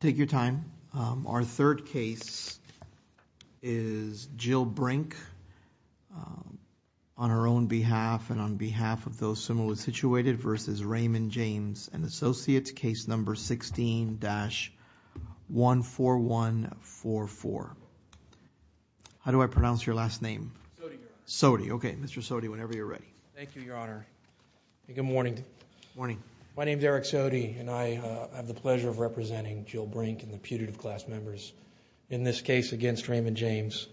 Take your time. Our third case is Jyll Brink on her own behalf and on behalf of those similarly situated versus Raymond James & Associates, Case No. 16-14144. My name is Eric Sodi and I have the pleasure of representing Jyll Brink and the putative class members in this case against Raymond James.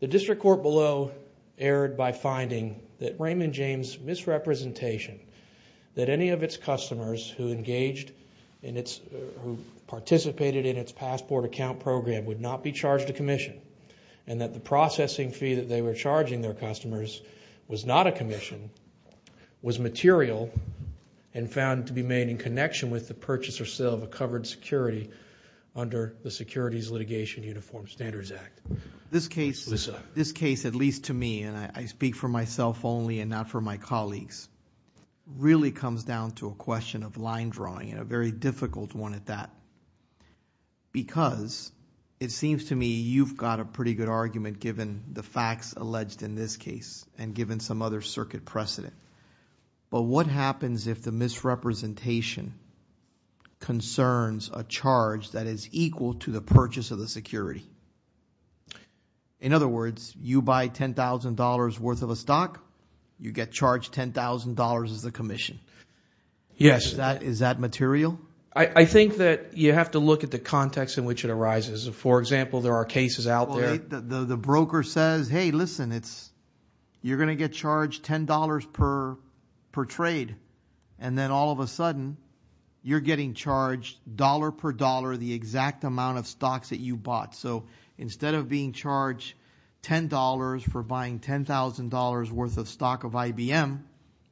The district court below erred by finding that Raymond James' misrepresentation that any of its customers who participated in its passport account program would not be charged a commission and that the processing fee that they were charging their customers was not a commission was material and found to be made in connection with the purchase or sale of a covered security under the Securities Litigation Uniform Standards Act. This case, at least to me, and I speak for myself only and not for my colleagues, really comes down to a question of line drawing and a very difficult one at that because it seems to me you've got a pretty good argument given the facts alleged in this case and given some other circuit precedent. But what happens if the misrepresentation concerns a charge that is equal to the purchase of the security? In other words, you buy $10,000 worth of a stock, you get charged $10,000 as the commission. Is that material? I think that you have to look at the context in which it arises. For example, there are cases out there. The broker says, hey, listen, you're going to get charged $10 per trade. And then all of a sudden, you're getting charged dollar per dollar the exact amount of stocks that you bought. So instead of being charged $10 for buying $10,000 worth of stock of IBM,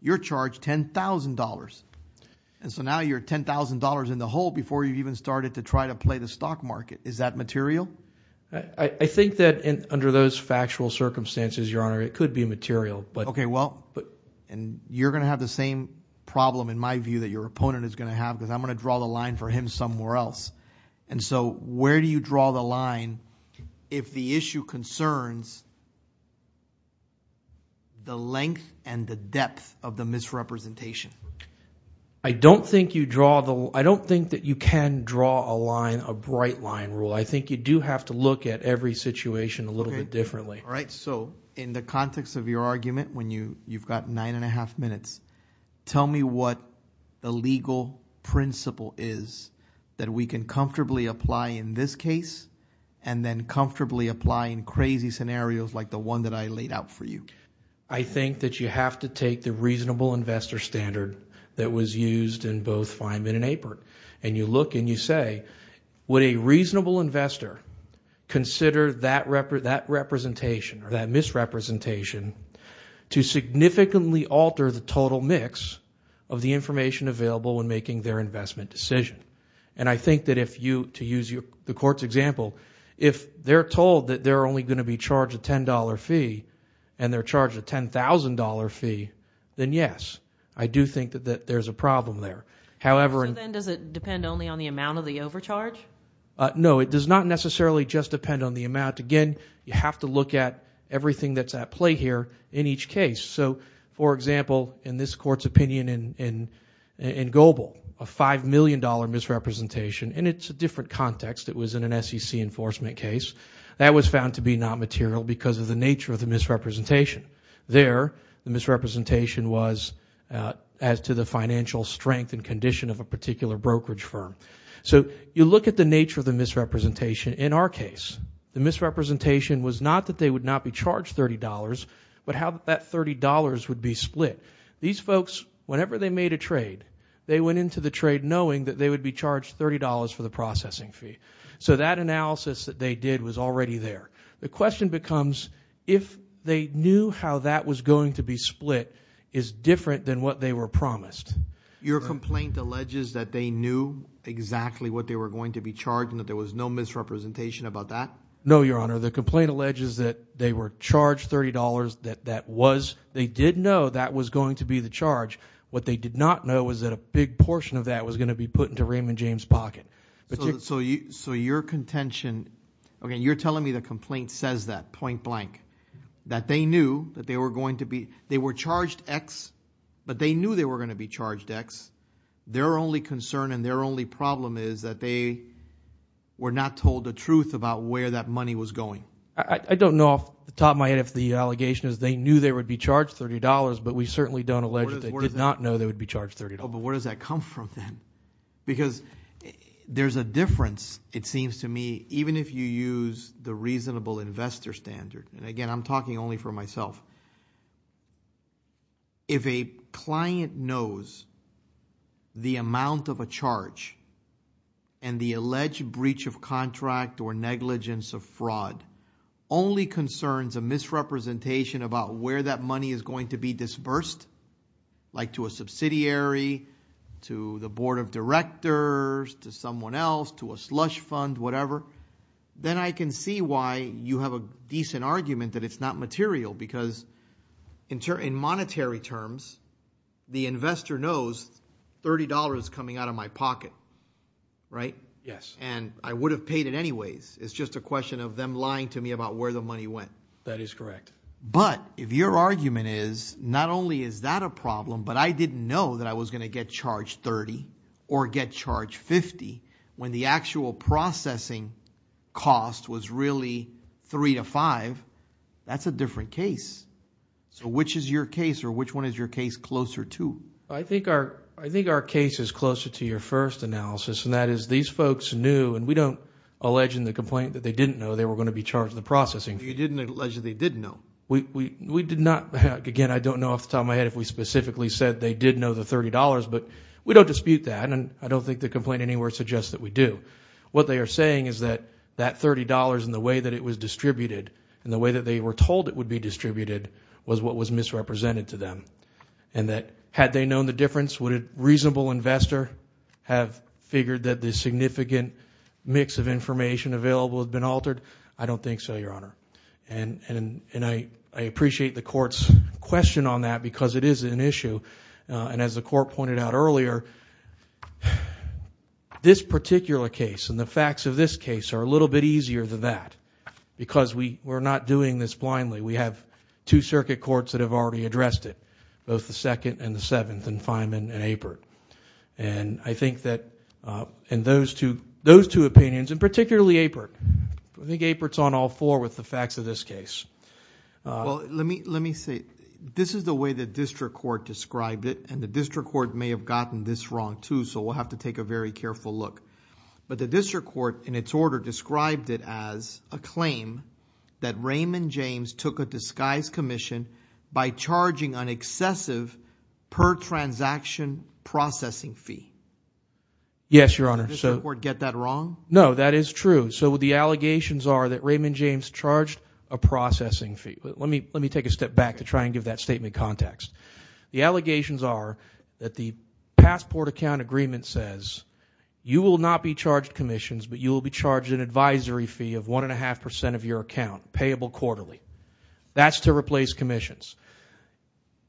you're charged $10,000. And so now you're $10,000 in the hole before you've even started to try to play the stock market. Is that material? I think that under those factual circumstances, Your Honor, it could be material. Okay, well, you're going to have the same problem in my view that your opponent is going to have because I'm going to draw the line for him somewhere else. And so where do you draw the line if the issue concerns the length and the depth of the misrepresentation? I don't think that you can draw a line, a bright line rule. I think you do have to look at every situation a little bit differently. All right, so in the context of your argument, when you've got nine and a half minutes, tell me what the legal principle is that we can comfortably apply in this case and then comfortably apply in crazy scenarios like the one that I laid out for you. I think that you have to take the reasonable investor standard that was used in both Feynman and Apert. And you look and you say, would a reasonable investor consider that representation or that misrepresentation to significantly alter the total mix of the information available when making their investment decision? And I think that if you, to use the court's example, if they're told that they're only going to be charged a $10 fee and they're charged a $10,000 fee, then yes, I do think that there's a problem there. However- So then does it depend only on the amount of the overcharge? No, it does not necessarily just depend on the amount. Again, you have to look at everything that's at play here in each case. So for example, in this court's opinion in Goebel, a $5 million misrepresentation, and it's a different context. It was in an SEC enforcement case. That was found to be not material because of the nature of the misrepresentation. There, the misrepresentation was as to the financial strength and condition of a particular brokerage firm. So you look at the nature of the misrepresentation in our case. The misrepresentation was not that they would not be charged $30, but how that $30 would be split. These folks, whenever they made a trade, they went into the trade knowing that they would be charged $30 for the processing fee. So that analysis that they did was already there. The question becomes if they knew how that was going to be split is different than what they were promised. Your complaint alleges that they knew exactly what they were going to be charged and that there was no misrepresentation about that? No, Your Honor. The complaint alleges that they were charged $30, that was, they did know that was going to be the charge. What they did not know was that a big portion of that was going to be put into Raymond James' pocket. So your contention, okay, you're telling me the complaint says that, point blank, that they knew that they were going to be, they were charged X, but they knew they were going to be charged X. Their only concern and their only problem is that they were not told the truth about where that money was going. I don't know off the top of my head if the allegation is they knew they would be charged $30, but we certainly don't allege that they did not know they would be charged $30. But where does that come from then? Because there's a difference, it seems to me, even if you use the reasonable investor standard. And again, I'm talking only for myself. If a client knows the amount of a charge and the alleged breach of contract or negligence of fraud, only concerns a misrepresentation about where that money is going to be disbursed, like to a subsidiary, to the board of directors, to someone else, to a slush fund, whatever, then I can see why you have a decent argument that it's not material because in monetary terms, the investor knows $30 is coming out of my pocket, right? Yes. And I would have paid it anyways. It's just a question of them lying to me about where the money went. That is correct. But if your argument is, not only is that a problem, but I didn't know that I was going to get charged $30 or get charged $50 when the actual processing cost was really $3 to $5, that's a different case. So which is your case, or which one is your case closer to? I think our case is closer to your first analysis, and that is these folks knew, and we don't allege in the complaint that they didn't know they were going to be charged the processing. You didn't allege that they didn't know? We did not, again, I don't know off the top of my head if we specifically said they did know the $30, but we don't dispute that, and I don't think the complaint anywhere suggests that we do. What they are saying is that that $30 and the way that it was distributed, and the way that they were told it would be distributed, was what was misrepresented to them. And that had they known the difference, would a reasonable investor have figured that the significant mix of information available had been altered? I don't think so, Your Honor, and I appreciate the Court's question on that, because it is an issue, and as the Court pointed out earlier, this particular case and the facts of this case are a little bit easier than that, because we are not doing this blindly. We have two circuit courts that have already addressed it, both the Second and the Seventh and Fineman and Apert, and I think that in those two opinions, and particularly Apert, I think Apert is on all four with the facts of this case. Well, let me say, this is the way the District Court described it, and the District Court may have gotten this wrong, too, so we'll have to take a very careful look, but the District Court, in its order, described it as a claim that Raymond James took a disguise commission by charging an excessive per-transaction processing fee. Yes, Your Honor. Did the District Court get that wrong? No, that is true. So, the allegations are that Raymond James charged a processing fee. Let me take a step back to try and give that statement context. The allegations are that the passport account agreement says, you will not be charged commissions, but you will be charged an advisory fee of 1.5% of your account, payable quarterly. That's to replace commissions.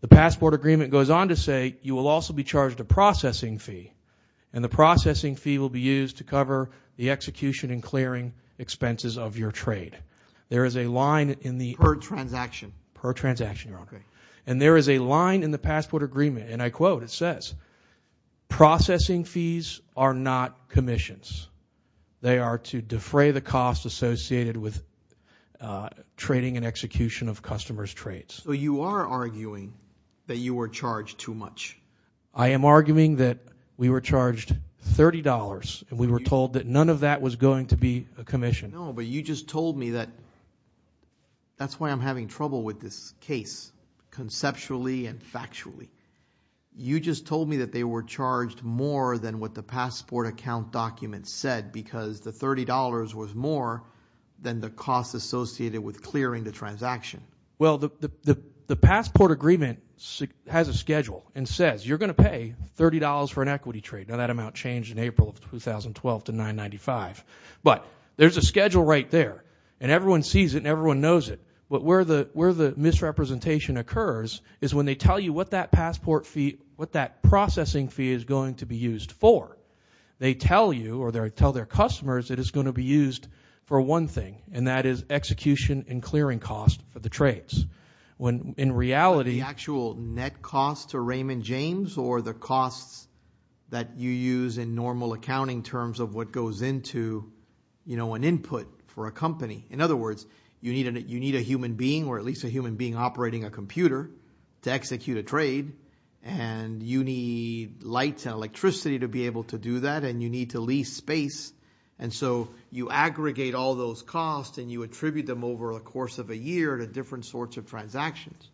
The passport agreement goes on to say, you will also be charged a processing fee, and the processing fee will be used to cover the execution and clearing expenses of your trade. There is a line in the... Per-transaction. Per-transaction, Your Honor. Okay. And there is a line in the passport agreement, and I quote, it says, processing fees are not commissions. They are to defray the cost associated with trading and execution of customers' trades. So, you are arguing that you were charged too much. I am arguing that we were charged $30, and we were told that none of that was going to be a commission. No, but you just told me that... That's why I'm having trouble with this case, conceptually and factually. You just told me that they were charged more than what the passport account document said, because the $30 was more than the cost associated with clearing the transaction. Well, the passport agreement has a schedule and says, you are going to pay $30 for an equity trade. Now, that amount changed in April of 2012 to $995, but there is a schedule right there, and everyone sees it, and everyone knows it, but where the misrepresentation occurs is when they tell you what that passport fee, what that processing fee is going to be used for. They tell you, or they tell their customers that it is going to be used for one thing, and that is execution and clearing cost for the trades. In reality... The actual net cost to Raymond James, or the costs that you use in normal accounting terms of what goes into an input for a company. In other words, you need a human being, or at least a human being operating a computer to execute a trade, and you need lights and electricity to be able to do that, and you aggregate all those costs, and you attribute them over the course of a year to different sorts of transactions.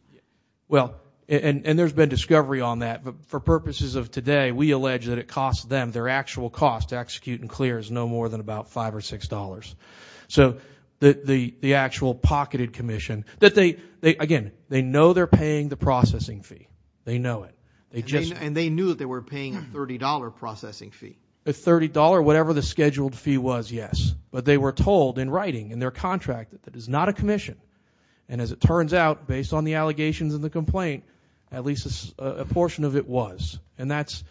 Well, and there has been discovery on that, but for purposes of today, we allege that it costs them, their actual cost to execute and clear is no more than about $5 or $6, so the actual pocketed commission, that they, again, they know they are paying the processing fee. They know it. They just... And they knew that they were paying a $30 processing fee. A $30, whatever the scheduled fee was, yes, but they were told in writing in their contract that it is not a commission, and as it turns out, based on the allegations and the complaint, at least a portion of it was, and that's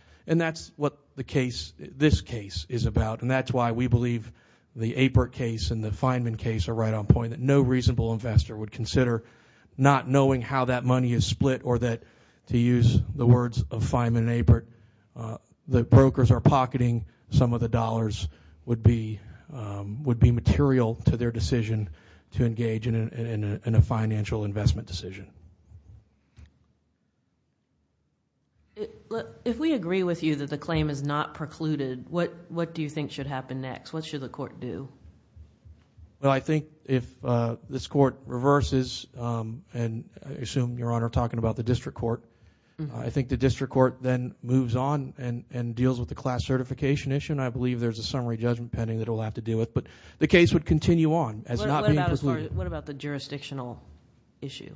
what the case, this case, is about, and that's why we believe the Apert case and the Feynman case are right on point, that no reasonable investor would consider not knowing how that money is split, or that, to use the words of Feynman and Apert, the brokers are pocketing some of the dollars would be material to their decision to engage in a financial investment decision. If we agree with you that the claim is not precluded, what do you think should happen next? What should the court do? Well, I think if this court reverses, and I assume, Your Honor, talking about the district court, I think the district court then moves on and deals with the class certification issue, and I believe there's a summary judgment pending that it will have to deal with, but the case would continue on as not being precluded. What about the jurisdictional issue?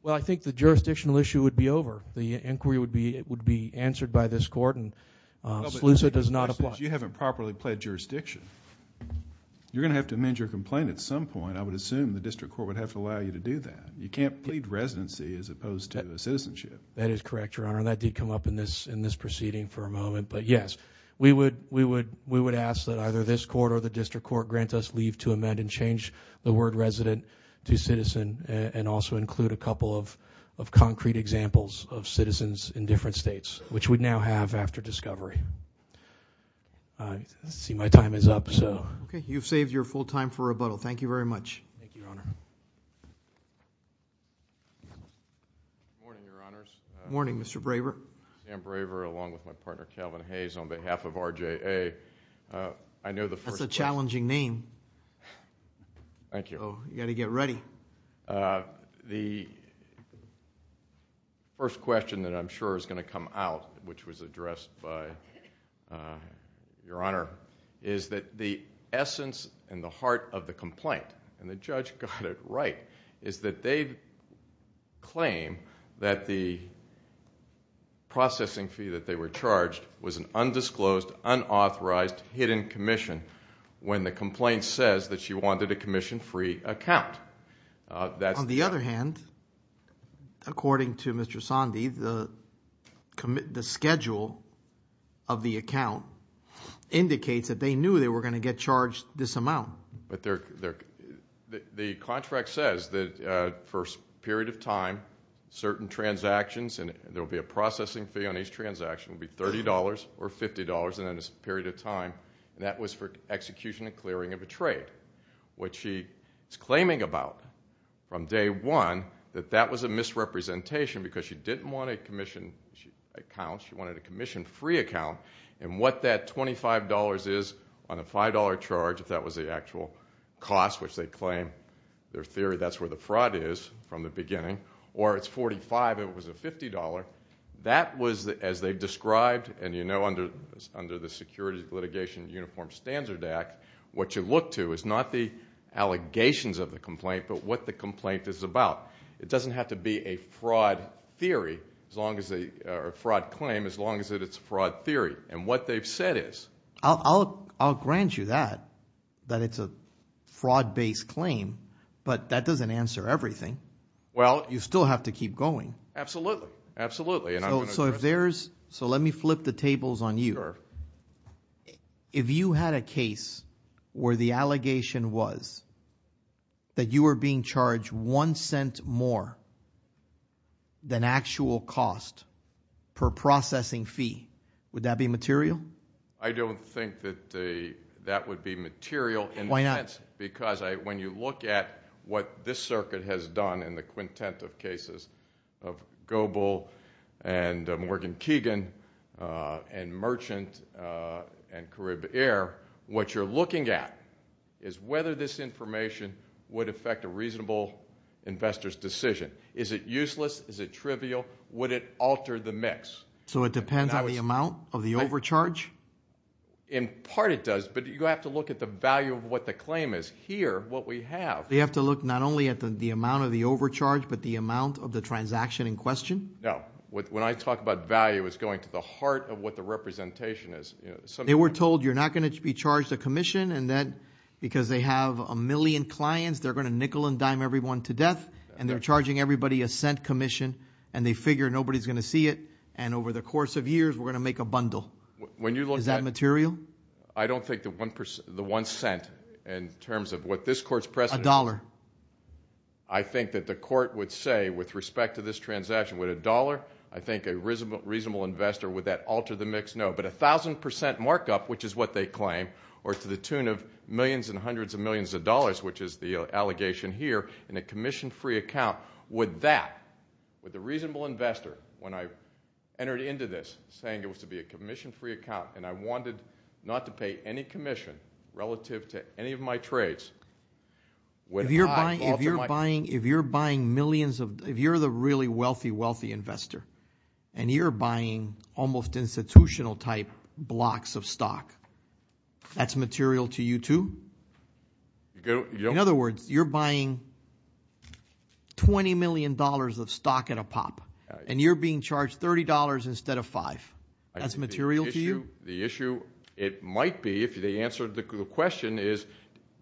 Well, I think the jurisdictional issue would be over. The inquiry would be answered by this court, and SLEUSA does not apply. You haven't properly pled jurisdiction. You're going to have to amend your complaint at some point. I would assume the district court would have to allow you to do that. You can't plead residency as opposed to citizenship. That is correct, Your Honor. That did come up in this proceeding for a moment, but yes, we would ask that either this court or the district court grant us leave to amend and change the word resident to citizen and also include a couple of concrete examples of citizens in different states, which we now have after discovery. I see my time is up. You've saved your full time for rebuttal. Thank you very much. Thank you, Your Honor. Good morning, Your Honors. Good morning, Mr. Braver. Dan Braver, along with my partner, Calvin Hayes, on behalf of RJA, I know the... That's a challenging name. Thank you. You've got to get ready. The first question that I'm sure is going to come out, which was addressed by Your Honor, the essence and the heart of the complaint, and the judge got it right, is that they claim that the processing fee that they were charged was an undisclosed, unauthorized, hidden commission when the complaint says that she wanted a commission-free account. On the other hand, according to Mr. Sondy, the schedule of the account indicates that they knew they were going to get charged this amount. The contract says that for a period of time, certain transactions, and there will be a processing fee on each transaction, will be $30 or $50 in a period of time, and that was for execution and clearing of a trade. What she is claiming about, from day one, that that was a misrepresentation because she didn't want a commission account, she wanted a commission-free account, and what that $25 is on a $5 charge, if that was the actual cost, which they claim, their theory that's where the fraud is from the beginning, or it's $45 if it was a $50, that was, as they've described, and you know under the Security Litigation Uniform Standard Act, what you look to is not the allegations of the complaint, but what the complaint is about. It doesn't have to be a fraud theory, or a fraud claim, as long as it's a fraud theory. And what they've said is- I'll grant you that, that it's a fraud-based claim, but that doesn't answer everything. Well- You still have to keep going. Absolutely, absolutely, and I'm going to- So if there's, so let me flip the tables on you. Sure. If you had a case where the allegation was that you were being charged one cent more than actual cost per processing fee, would that be material? I don't think that that would be material in that- Why not? Because when you look at what this circuit has done in the quintet of cases of Goebel and Morgan Keegan and Merchant and Carib Air, what you're looking at is whether this information would affect a reasonable investor's decision. Is it useless? Is it trivial? Would it alter the mix? So it depends on the amount of the overcharge? In part it does, but you have to look at the value of what the claim is. Here, what we have- We have to look not only at the amount of the overcharge, but the amount of the transaction in question? No. When I talk about value, it's going to the heart of what the representation is. They were told you're not going to be charged a commission, and then because they have a million clients, they're going to nickel and dime everyone to death, and they're charging everybody a cent commission, and they figure nobody's going to see it, and over the course of years, we're going to make a bundle. When you look at- Is that material? I don't think the one cent in terms of what this court's precedent- A dollar. A dollar. I think that the court would say with respect to this transaction, with a dollar, I think a reasonable investor, would that alter the mix? No, but a thousand percent markup, which is what they claim, or to the tune of millions and hundreds of millions of dollars, which is the allegation here, in a commission-free account, would that, with a reasonable investor, when I entered into this saying it was to be a commission-free account, and I wanted not to pay any commission relative to any of my trades, would I alter my- If you're buying millions of- if you're the really wealthy, wealthy investor, and you're buying almost institutional-type blocks of stock, that's material to you, too? In other words, you're buying $20 million of stock at a pop, and you're being charged $30 instead of five. That's material to you? The issue, it might be, if they answered the question, is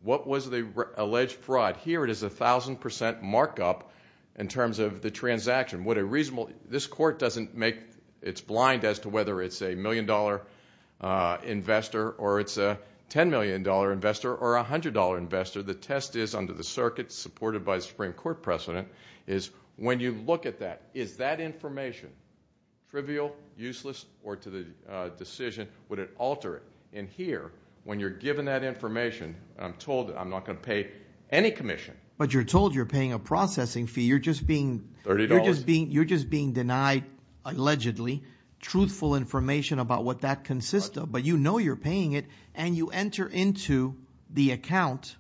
what was the alleged fraud? Here it is a thousand percent markup in terms of the transaction. What a reasonable- this court doesn't make- it's blind as to whether it's a million-dollar investor or it's a ten-million-dollar investor or a hundred-dollar investor. The test is, under the circuit supported by the Supreme Court precedent, is when you look at that, is that information trivial, useless, or to the decision, would it alter it? And here, when you're given that information, I'm told I'm not going to pay any commission. But you're told you're paying a processing fee. You're just being- $30. You're just being denied, allegedly, truthful information about what that consists of. But you know you're paying it, and you enter into the account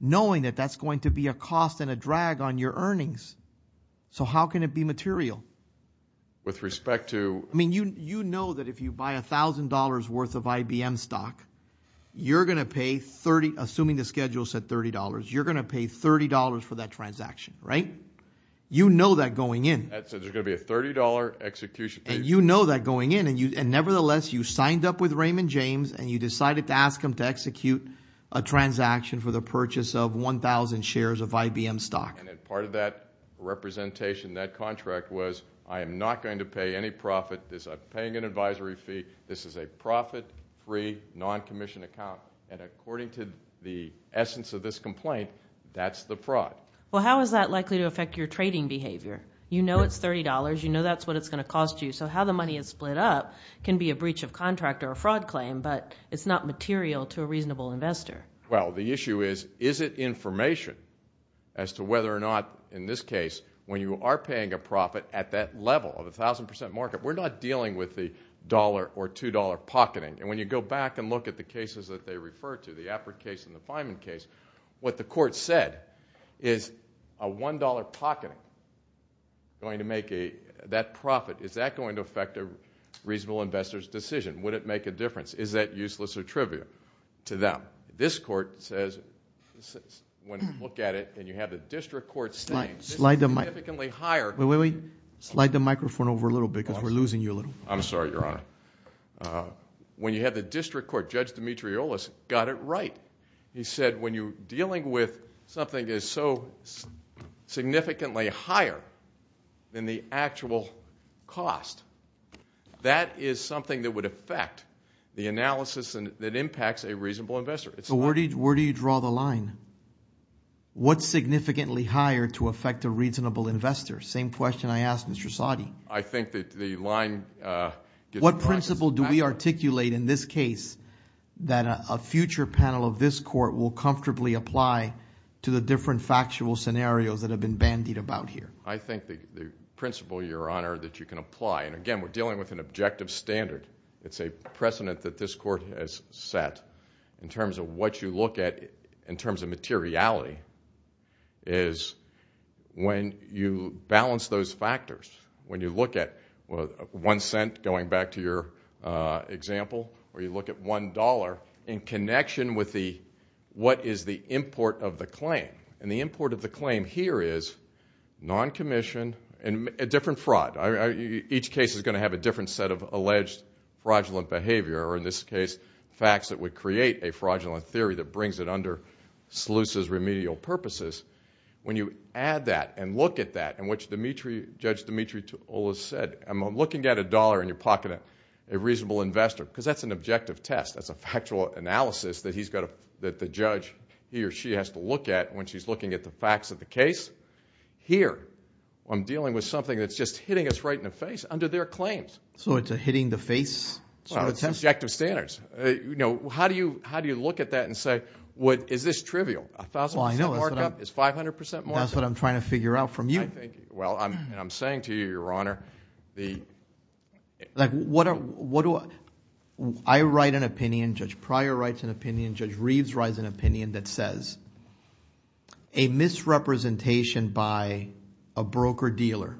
knowing that that's going to be a cost and a drag on your earnings. So how can it be material? With respect to- I mean, you know that if you buy $1,000 worth of IBM stock, you're going to pay 30- assuming the schedule said $30- you're going to pay $30 for that transaction, right? You know that going in. That said, there's going to be a $30 execution fee. And you know that going in, and nevertheless, you signed up with Raymond James, and you decided to ask him to execute a transaction for the purchase of 1,000 shares of IBM stock. And part of that representation, that contract, was I am not going to pay any profit. I'm paying an advisory fee. This is a profit-free, non-commissioned account, and according to the essence of this complaint, that's the fraud. Well, how is that likely to affect your trading behavior? You know it's $30. You know that's what it's going to cost you. So how the money is split up can be a breach of contract or a fraud claim, but it's not material to a reasonable investor. Well, the issue is, is it information as to whether or not, in this case, when you are paying a profit at that level of 1,000% market, we're not dealing with the $1 or $2 pocketing. And when you go back and look at the cases that they refer to, the Apert case and the Fineman case, what the court said is a $1 pocketing going to make that profit, is that going to affect a reasonable investor's decision? Would it make a difference? Is that useless or trivial to them? This court says, when you look at it and you have the district court saying, this is significantly higher. Wait, wait, wait. Slide the microphone over a little bit because we're losing you a little. I'm sorry, Your Honor. When you have the district court, Judge Demetrioulas got it right. He said when you're dealing with something that is so significantly higher than the actual cost, that is something that would affect the analysis and that impacts a reasonable investor. So where do you draw the line? What's significantly higher to affect a reasonable investor? Same question I asked Mr. Soddy. I think that the line... What principle do we articulate in this case that a future panel of this court will comfortably apply to the different factual scenarios that have been bandied about here? I think the principle, Your Honor, that you can apply, and again, we're dealing with an objective standard. It's a precedent that this court has set in terms of what you look at in terms of materiality is when you balance those factors. When you look at one cent, going back to your example, or you look at one dollar in connection with what is the import of the claim. The import of the claim here is non-commissioned and a different fraud. Each case is going to have a different set of alleged fraudulent behavior, or in this case, facts that would create a fraudulent theory that brings it under Sluice's remedial purposes. When you add that and look at that, in which Judge Demetrioulas said, I'm looking at a dollar in your pocket of a reasonable investor, because that's an objective test. That's a factual analysis that the judge, he or she has to look at when she's looking at the facts of the case. Here, I'm dealing with something that's just hitting us right in the face under their claims. It's a hitting the face sort of test? Objective standards. How do you look at that and say, is this trivial? A 1,000% markup is 500% markup. That's what I'm trying to figure out from you. I'm saying to you, your honor, the... I write an opinion, Judge Pryor writes an opinion, Judge Reeves writes an opinion that says a misrepresentation by a broker-dealer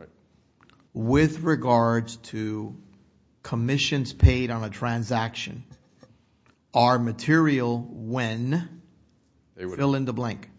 with regards to commissions paid on a transaction are material when, fill in the blank.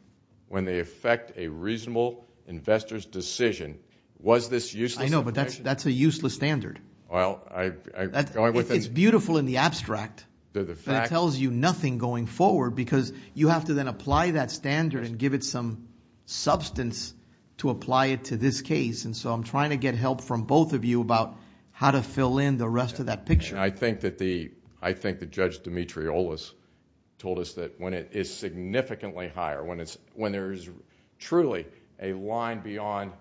When they affect a reasonable investor's decision, was this useless? I know, but that's a useless standard. Well, I... It's beautiful in the abstract, but it tells you nothing going forward, because you have to then apply that standard and give it some substance to apply it to this case. I'm trying to get help from both of you about how to fill in the rest of that picture. I think that Judge Demetrioulas told us that when it is significantly higher, when there is truly a line beyond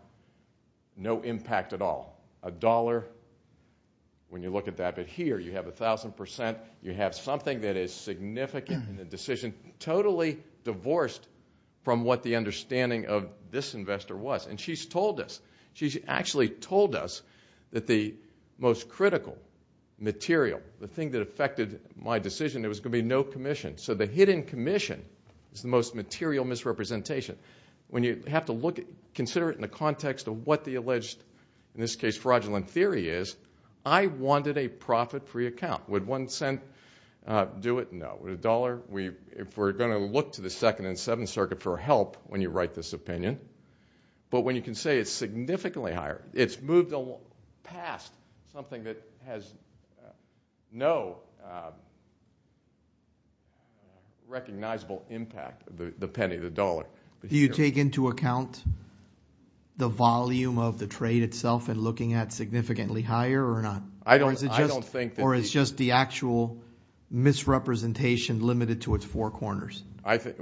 no impact at all, a dollar, when you look at that, but here you have 1,000%, you have something that is significant in the decision, totally divorced from what the understanding of this investor was. She's told us, she's actually told us that the most critical material, the thing that affected my decision, it was going to be no commission. The hidden commission is the most material misrepresentation. When you have to consider it in the context of what the alleged, in this case, fraudulent theory is, I wanted a profit-free account. Would one cent do it? No. Would a dollar? If we're going to look to the Second and Seventh Circuit for help when you write this opinion, but when you can say it's significantly higher, it's moved past something that has no recognizable impact, the penny, the dollar. Do you take into account the volume of the trade itself in looking at significantly higher or not? Or is it just the actual misrepresentation limited to its four corners? I think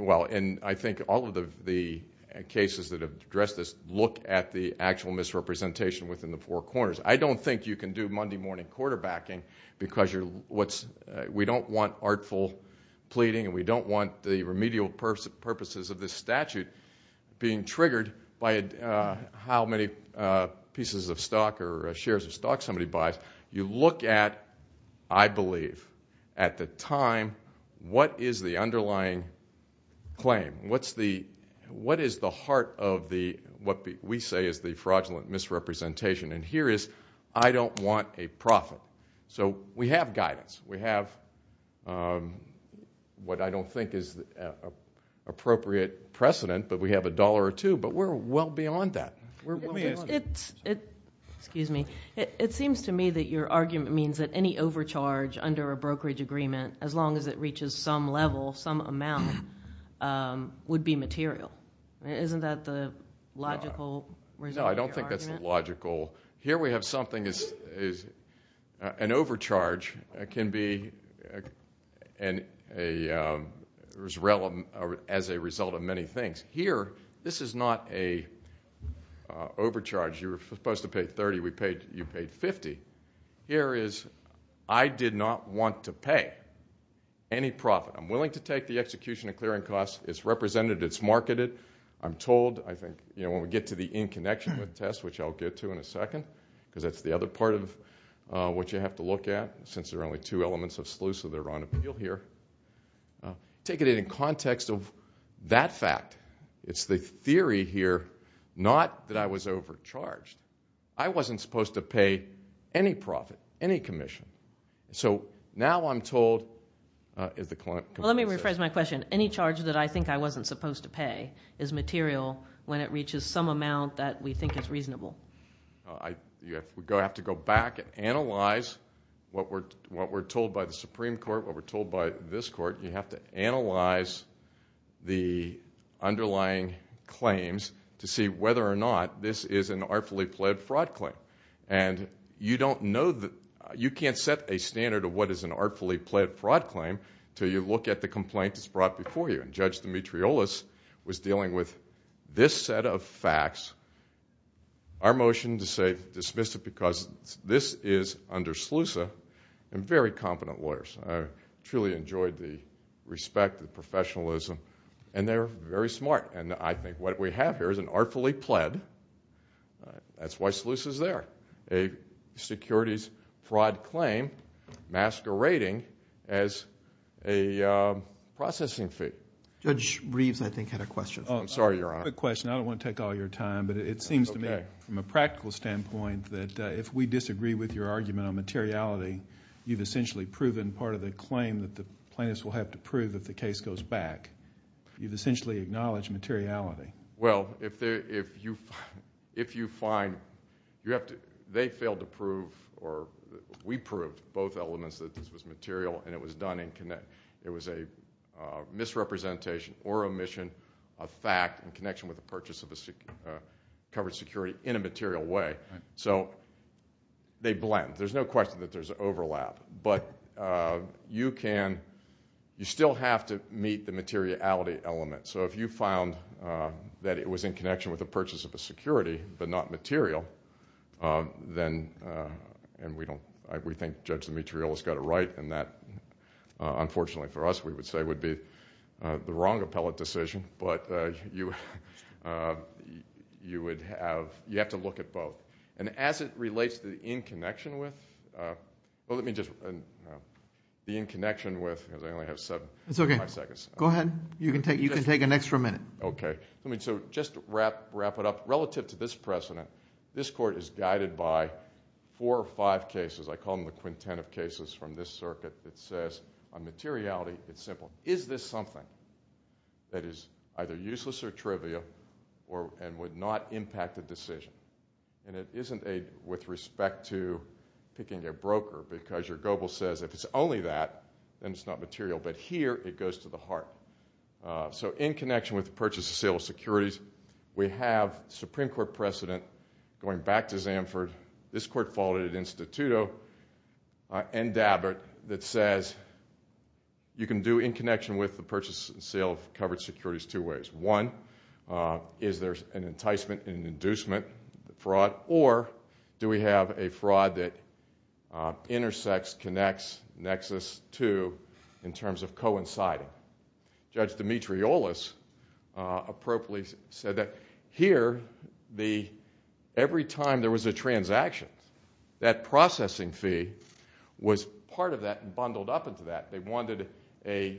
all of the cases that have addressed this look at the actual misrepresentation within the four corners. I don't think you can do Monday morning quarterbacking because we don't want artful pleading and we don't want the remedial purposes of this statute being triggered by how many pieces of stock or shares of stock somebody buys. You look at, I believe, at the time, what is the underlying claim? What is the heart of what we say is the fraudulent misrepresentation? Here is I don't want a profit. We have guidance. We have what I don't think is appropriate precedent, but we have a dollar or two, but we're well It seems to me that your argument means that any overcharge under a brokerage agreement, as long as it reaches some level, some amount, would be material. Isn't that the logical reason for your argument? No, I don't think that's logical. Here we have something as an overcharge can be as a result of many things. Here, this is not an overcharge. You were supposed to pay 30, you paid 50. Here is I did not want to pay any profit. I'm willing to take the execution and clearing costs. It's represented. It's marketed. I'm told, I think, when we get to the in connection with the test, which I'll get to in a second because that's the other part of what you have to look at, since there are only two elements of SLUSA that are on appeal here, take it in context of that fact. It's the theory here, not that I was overcharged. I wasn't supposed to pay any profit, any commission. Now I'm told, as the client says. Well, let me rephrase my question. Any charge that I think I wasn't supposed to pay is material when it reaches some amount that we think is reasonable. You have to go back and analyze what we're told by the Supreme Court, what we're told by this court. You have to analyze the underlying claims to see whether or not this is an artfully pled fraud claim. You can't set a standard of what is an artfully pled fraud claim until you look at the complaint that's brought before you. Judge Demetrioulas was dealing with this set of facts. Our motion to say dismiss it because this is under SLUSA and very competent lawyers, truly enjoyed the respect, the professionalism, and they're very smart. I think what we have here is an artfully pled, that's why SLUSA's there, a securities fraud claim masquerading as a processing fee. Judge Reeves, I think, had a question. I'm sorry, Your Honor. Quick question. I don't want to take all your time, but it seems to me from a practical standpoint that if we disagree with your argument on materiality, you've essentially proven part of the claim that the plaintiffs will have to prove if the case goes back. You've essentially acknowledged materiality. Well, they failed to prove, or we proved, both elements that this was material and it was done in... it was a misrepresentation or omission of fact in connection with the purchase of a covered security in a material way. So they blend. There's no question that there's overlap, but you can... you still have to meet the materiality element. So if you found that it was in connection with the purchase of a security but not material, then... and we don't... we think Judge Demetriou has got it right, and that, unfortunately for us, we would say would be the wrong appellate decision, but you would have... you have to look at both. And as it relates to the in connection with... well, let me just... the in connection with... because I only have seven and a half seconds. It's okay. Go ahead. You can take an extra minute. Okay. Let me just wrap it up. Relative to this precedent, this court is guided by four or five cases. I call them the quintet of cases from this circuit that says on materiality, it's simple. Is this something that is either useless or trivial and would not impact the decision? And it isn't a... with respect to picking a broker, because your GOBLE says if it's only that, then it's not material, but here it goes to the heart. So in connection with the purchase of sale of securities, we have Supreme Court precedent going back to Zanford. This court followed it at Instituto and Dabbert that says you can do in connection with the purchase and sale of covered securities two ways. One, is there an enticement, an inducement, a fraud? Or do we have a fraud that intersects, connects, nexus to, in terms of coinciding? Judge Dimitriolos appropriately said that here, every time there was a transaction, that processing fee was part of that and bundled up into that. They wanted a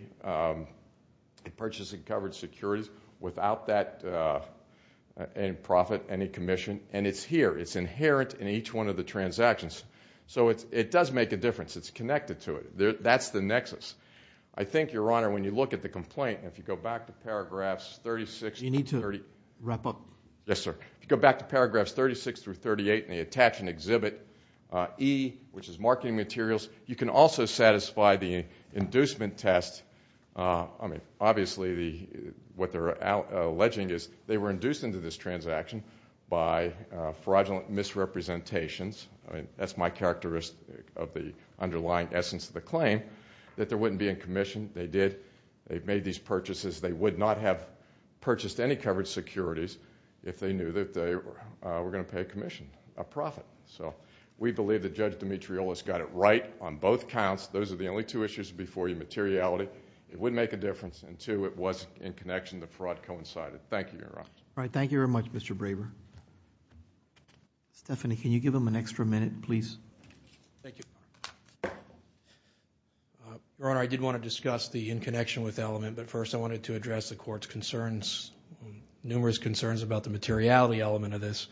purchase of covered securities without that in profit, any commission, and it's here. It's inherent in each one of the transactions. So it does make a difference. It's connected to it. That's the nexus. I think, Your Honor, when you look at the complaint, and if you go back to paragraphs 36- You need to wrap up. Yes, sir. If you go back to paragraphs 36-38, and they attach and exhibit E, which is marketing materials, you can also satisfy the inducement test. Obviously, what they're alleging is they were induced into this transaction by fraudulent misrepresentations. I mean, that's my characteristic of the underlying essence of the claim, that there wouldn't be a commission. They did. They've made these purchases. They would not have purchased any covered securities if they knew that they were going to pay a commission, a profit. So we believe that Judge Dimitriolos got it right on both counts. Those are the only two issues before you, materiality. It would make a difference, and two, it was in connection, the fraud coincided. Thank you, Your Honor. All right. Thank you very much, Mr. Braver. Stephanie, can you give them an extra minute, please? Thank you. Your Honor, I did want to discuss the in connection with element, but first I wanted to address the Court's concerns, numerous concerns about the materiality element of this.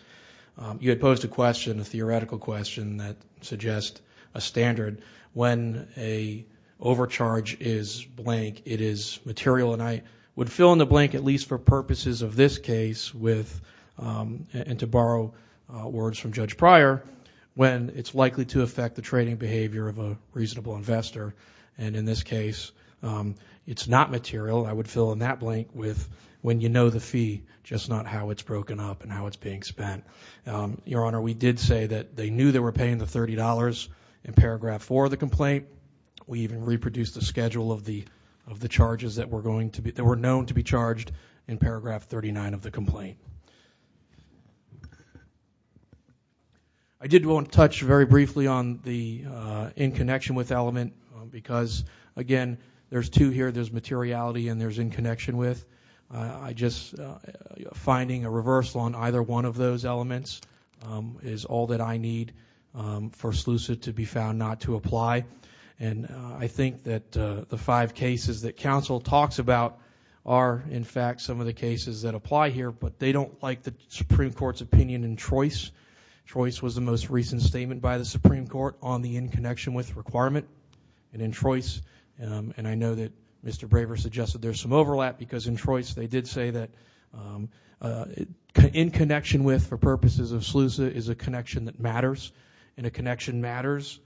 You had posed a question, a theoretical question that suggests a standard. When a overcharge is blank, it is material, and I would fill in the blank, at least for the record, and to borrow words from Judge Pryor, when it's likely to affect the trading behavior of a reasonable investor, and in this case, it's not material. I would fill in that blank with when you know the fee, just not how it's broken up and how it's being spent. Your Honor, we did say that they knew they were paying the $30 in paragraph four of the complaint. We even reproduced the schedule of the charges that were known to be charged in paragraph 39 of the complaint. I did want to touch very briefly on the in connection with element because, again, there's two here. There's materiality and there's in connection with. I just, finding a reversal on either one of those elements is all that I need for Slucid to be found not to apply, and I think that the five cases that counsel talks about are, in fact, some of the cases that apply here, but they don't like the Supreme Court's opinion in Trois. Trois was the most recent statement by the Supreme Court on the in connection with requirement, and in Trois, and I know that Mr. Braver suggested there's some overlap because in Trois they did say that in connection with for purposes of Slucid is a connection that matters, and a connection matters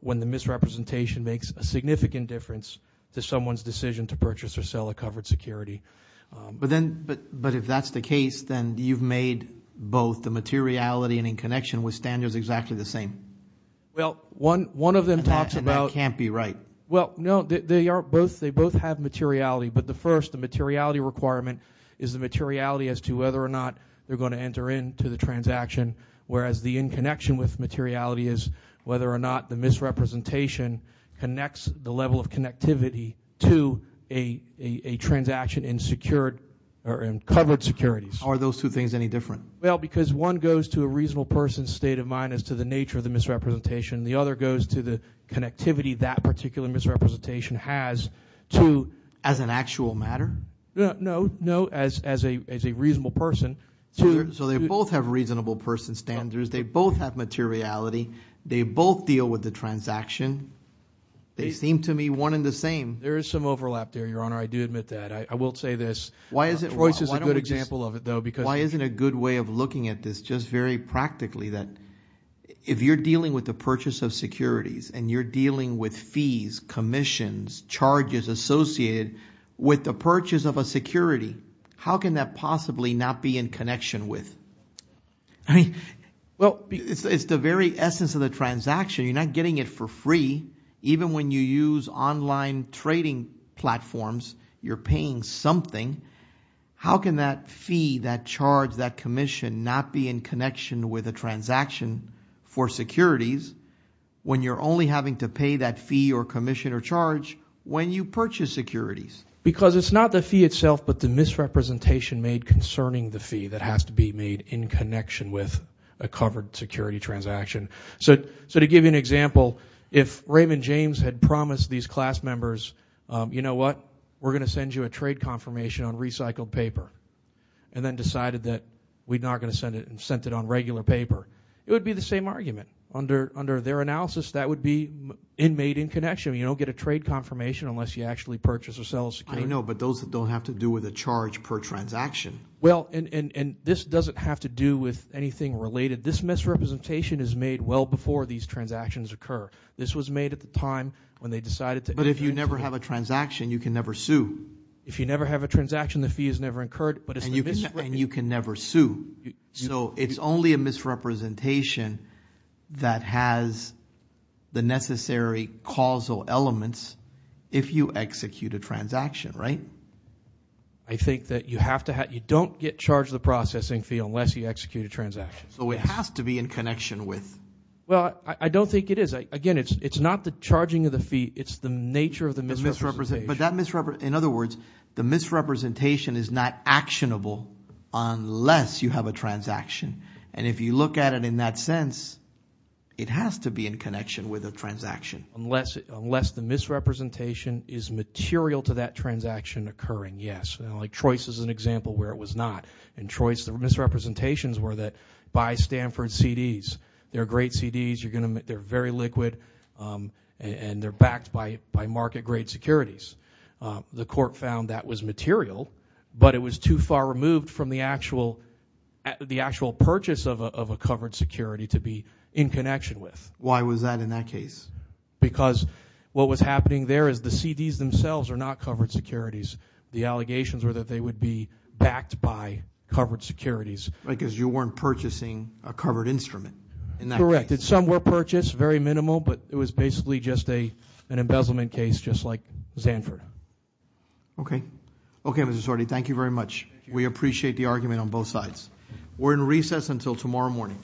when the misrepresentation makes a significant difference to someone's decision to purchase or sell a covered security. But then, but if that's the case, then you've made both the materiality and in connection with standards exactly the same. Well, one of them talks about- That can't be right. Well, no. They are both, they both have materiality, but the first, the materiality requirement is the materiality as to whether or not they're going to enter into the transaction, whereas the in connection with materiality is whether or not the misrepresentation connects the level of connectivity to a transaction in secured, or in covered securities. Are those two things any different? Well, because one goes to a reasonable person's state of mind as to the nature of the misrepresentation, the other goes to the connectivity that particular misrepresentation has to- As an actual matter? No, no, as a reasonable person. So they both have reasonable person standards, they both have materiality, they both deal with the transaction, they seem to me one and the same. There is some overlap there, Your Honor, I do admit that, I will say this. Why is it- Troyce is a good example of it, though, because- Why isn't a good way of looking at this just very practically, that if you're dealing with the purchase of securities, and you're dealing with fees, commissions, charges associated with the purchase of a security, how can that possibly not be in connection with- Well, it's the very essence of the transaction, you're not getting it for free, even when you use online trading platforms, you're paying something. How can that fee, that charge, that commission not be in connection with a transaction for securities, when you're only having to pay that fee or commission or charge when you purchase securities? Because it's not the fee itself, but the misrepresentation made concerning the fee that has to be made in connection with a covered security transaction. To give you an example, if Raymond James had promised these class members, you know what, we're going to send you a trade confirmation on recycled paper, and then decided that we're not going to send it, and sent it on regular paper, it would be the same argument. Under their analysis, that would be made in connection, you don't get a trade confirmation unless you actually purchase or sell a security. I know, but those that don't have to do with a charge per transaction. Well, and this doesn't have to do with anything related. This misrepresentation is made well before these transactions occur. This was made at the time when they decided to- But if you never have a transaction, you can never sue. If you never have a transaction, the fee is never incurred, but it's the misrep- And you can never sue. So it's only a misrepresentation that has the necessary causal elements if you execute a transaction, right? I think that you have to have, you don't get charged the processing fee unless you execute a transaction. So it has to be in connection with- Well, I don't think it is. Again, it's not the charging of the fee, it's the nature of the misrepresentation. But that misrep, in other words, the misrepresentation is not actionable unless you have a transaction. And if you look at it in that sense, it has to be in connection with a transaction. Unless the misrepresentation is material to that transaction occurring, yes. Troyce is an example where it was not. In Troyce, the misrepresentations were that, buy Stanford CDs. They're great CDs, they're very liquid, and they're backed by market-grade securities. The court found that was material, but it was too far removed from the actual purchase of a covered security to be in connection with. Why was that in that case? Because what was happening there is the CDs themselves are not covered securities. The allegations were that they would be backed by covered securities. Right, because you weren't purchasing a covered instrument in that case. Correct, and some were purchased, very minimal, but it was basically just an embezzlement case just like Zanford. Okay. Okay, Mr. Sordi, thank you very much. We appreciate the argument on both sides. We're in recess until tomorrow morning.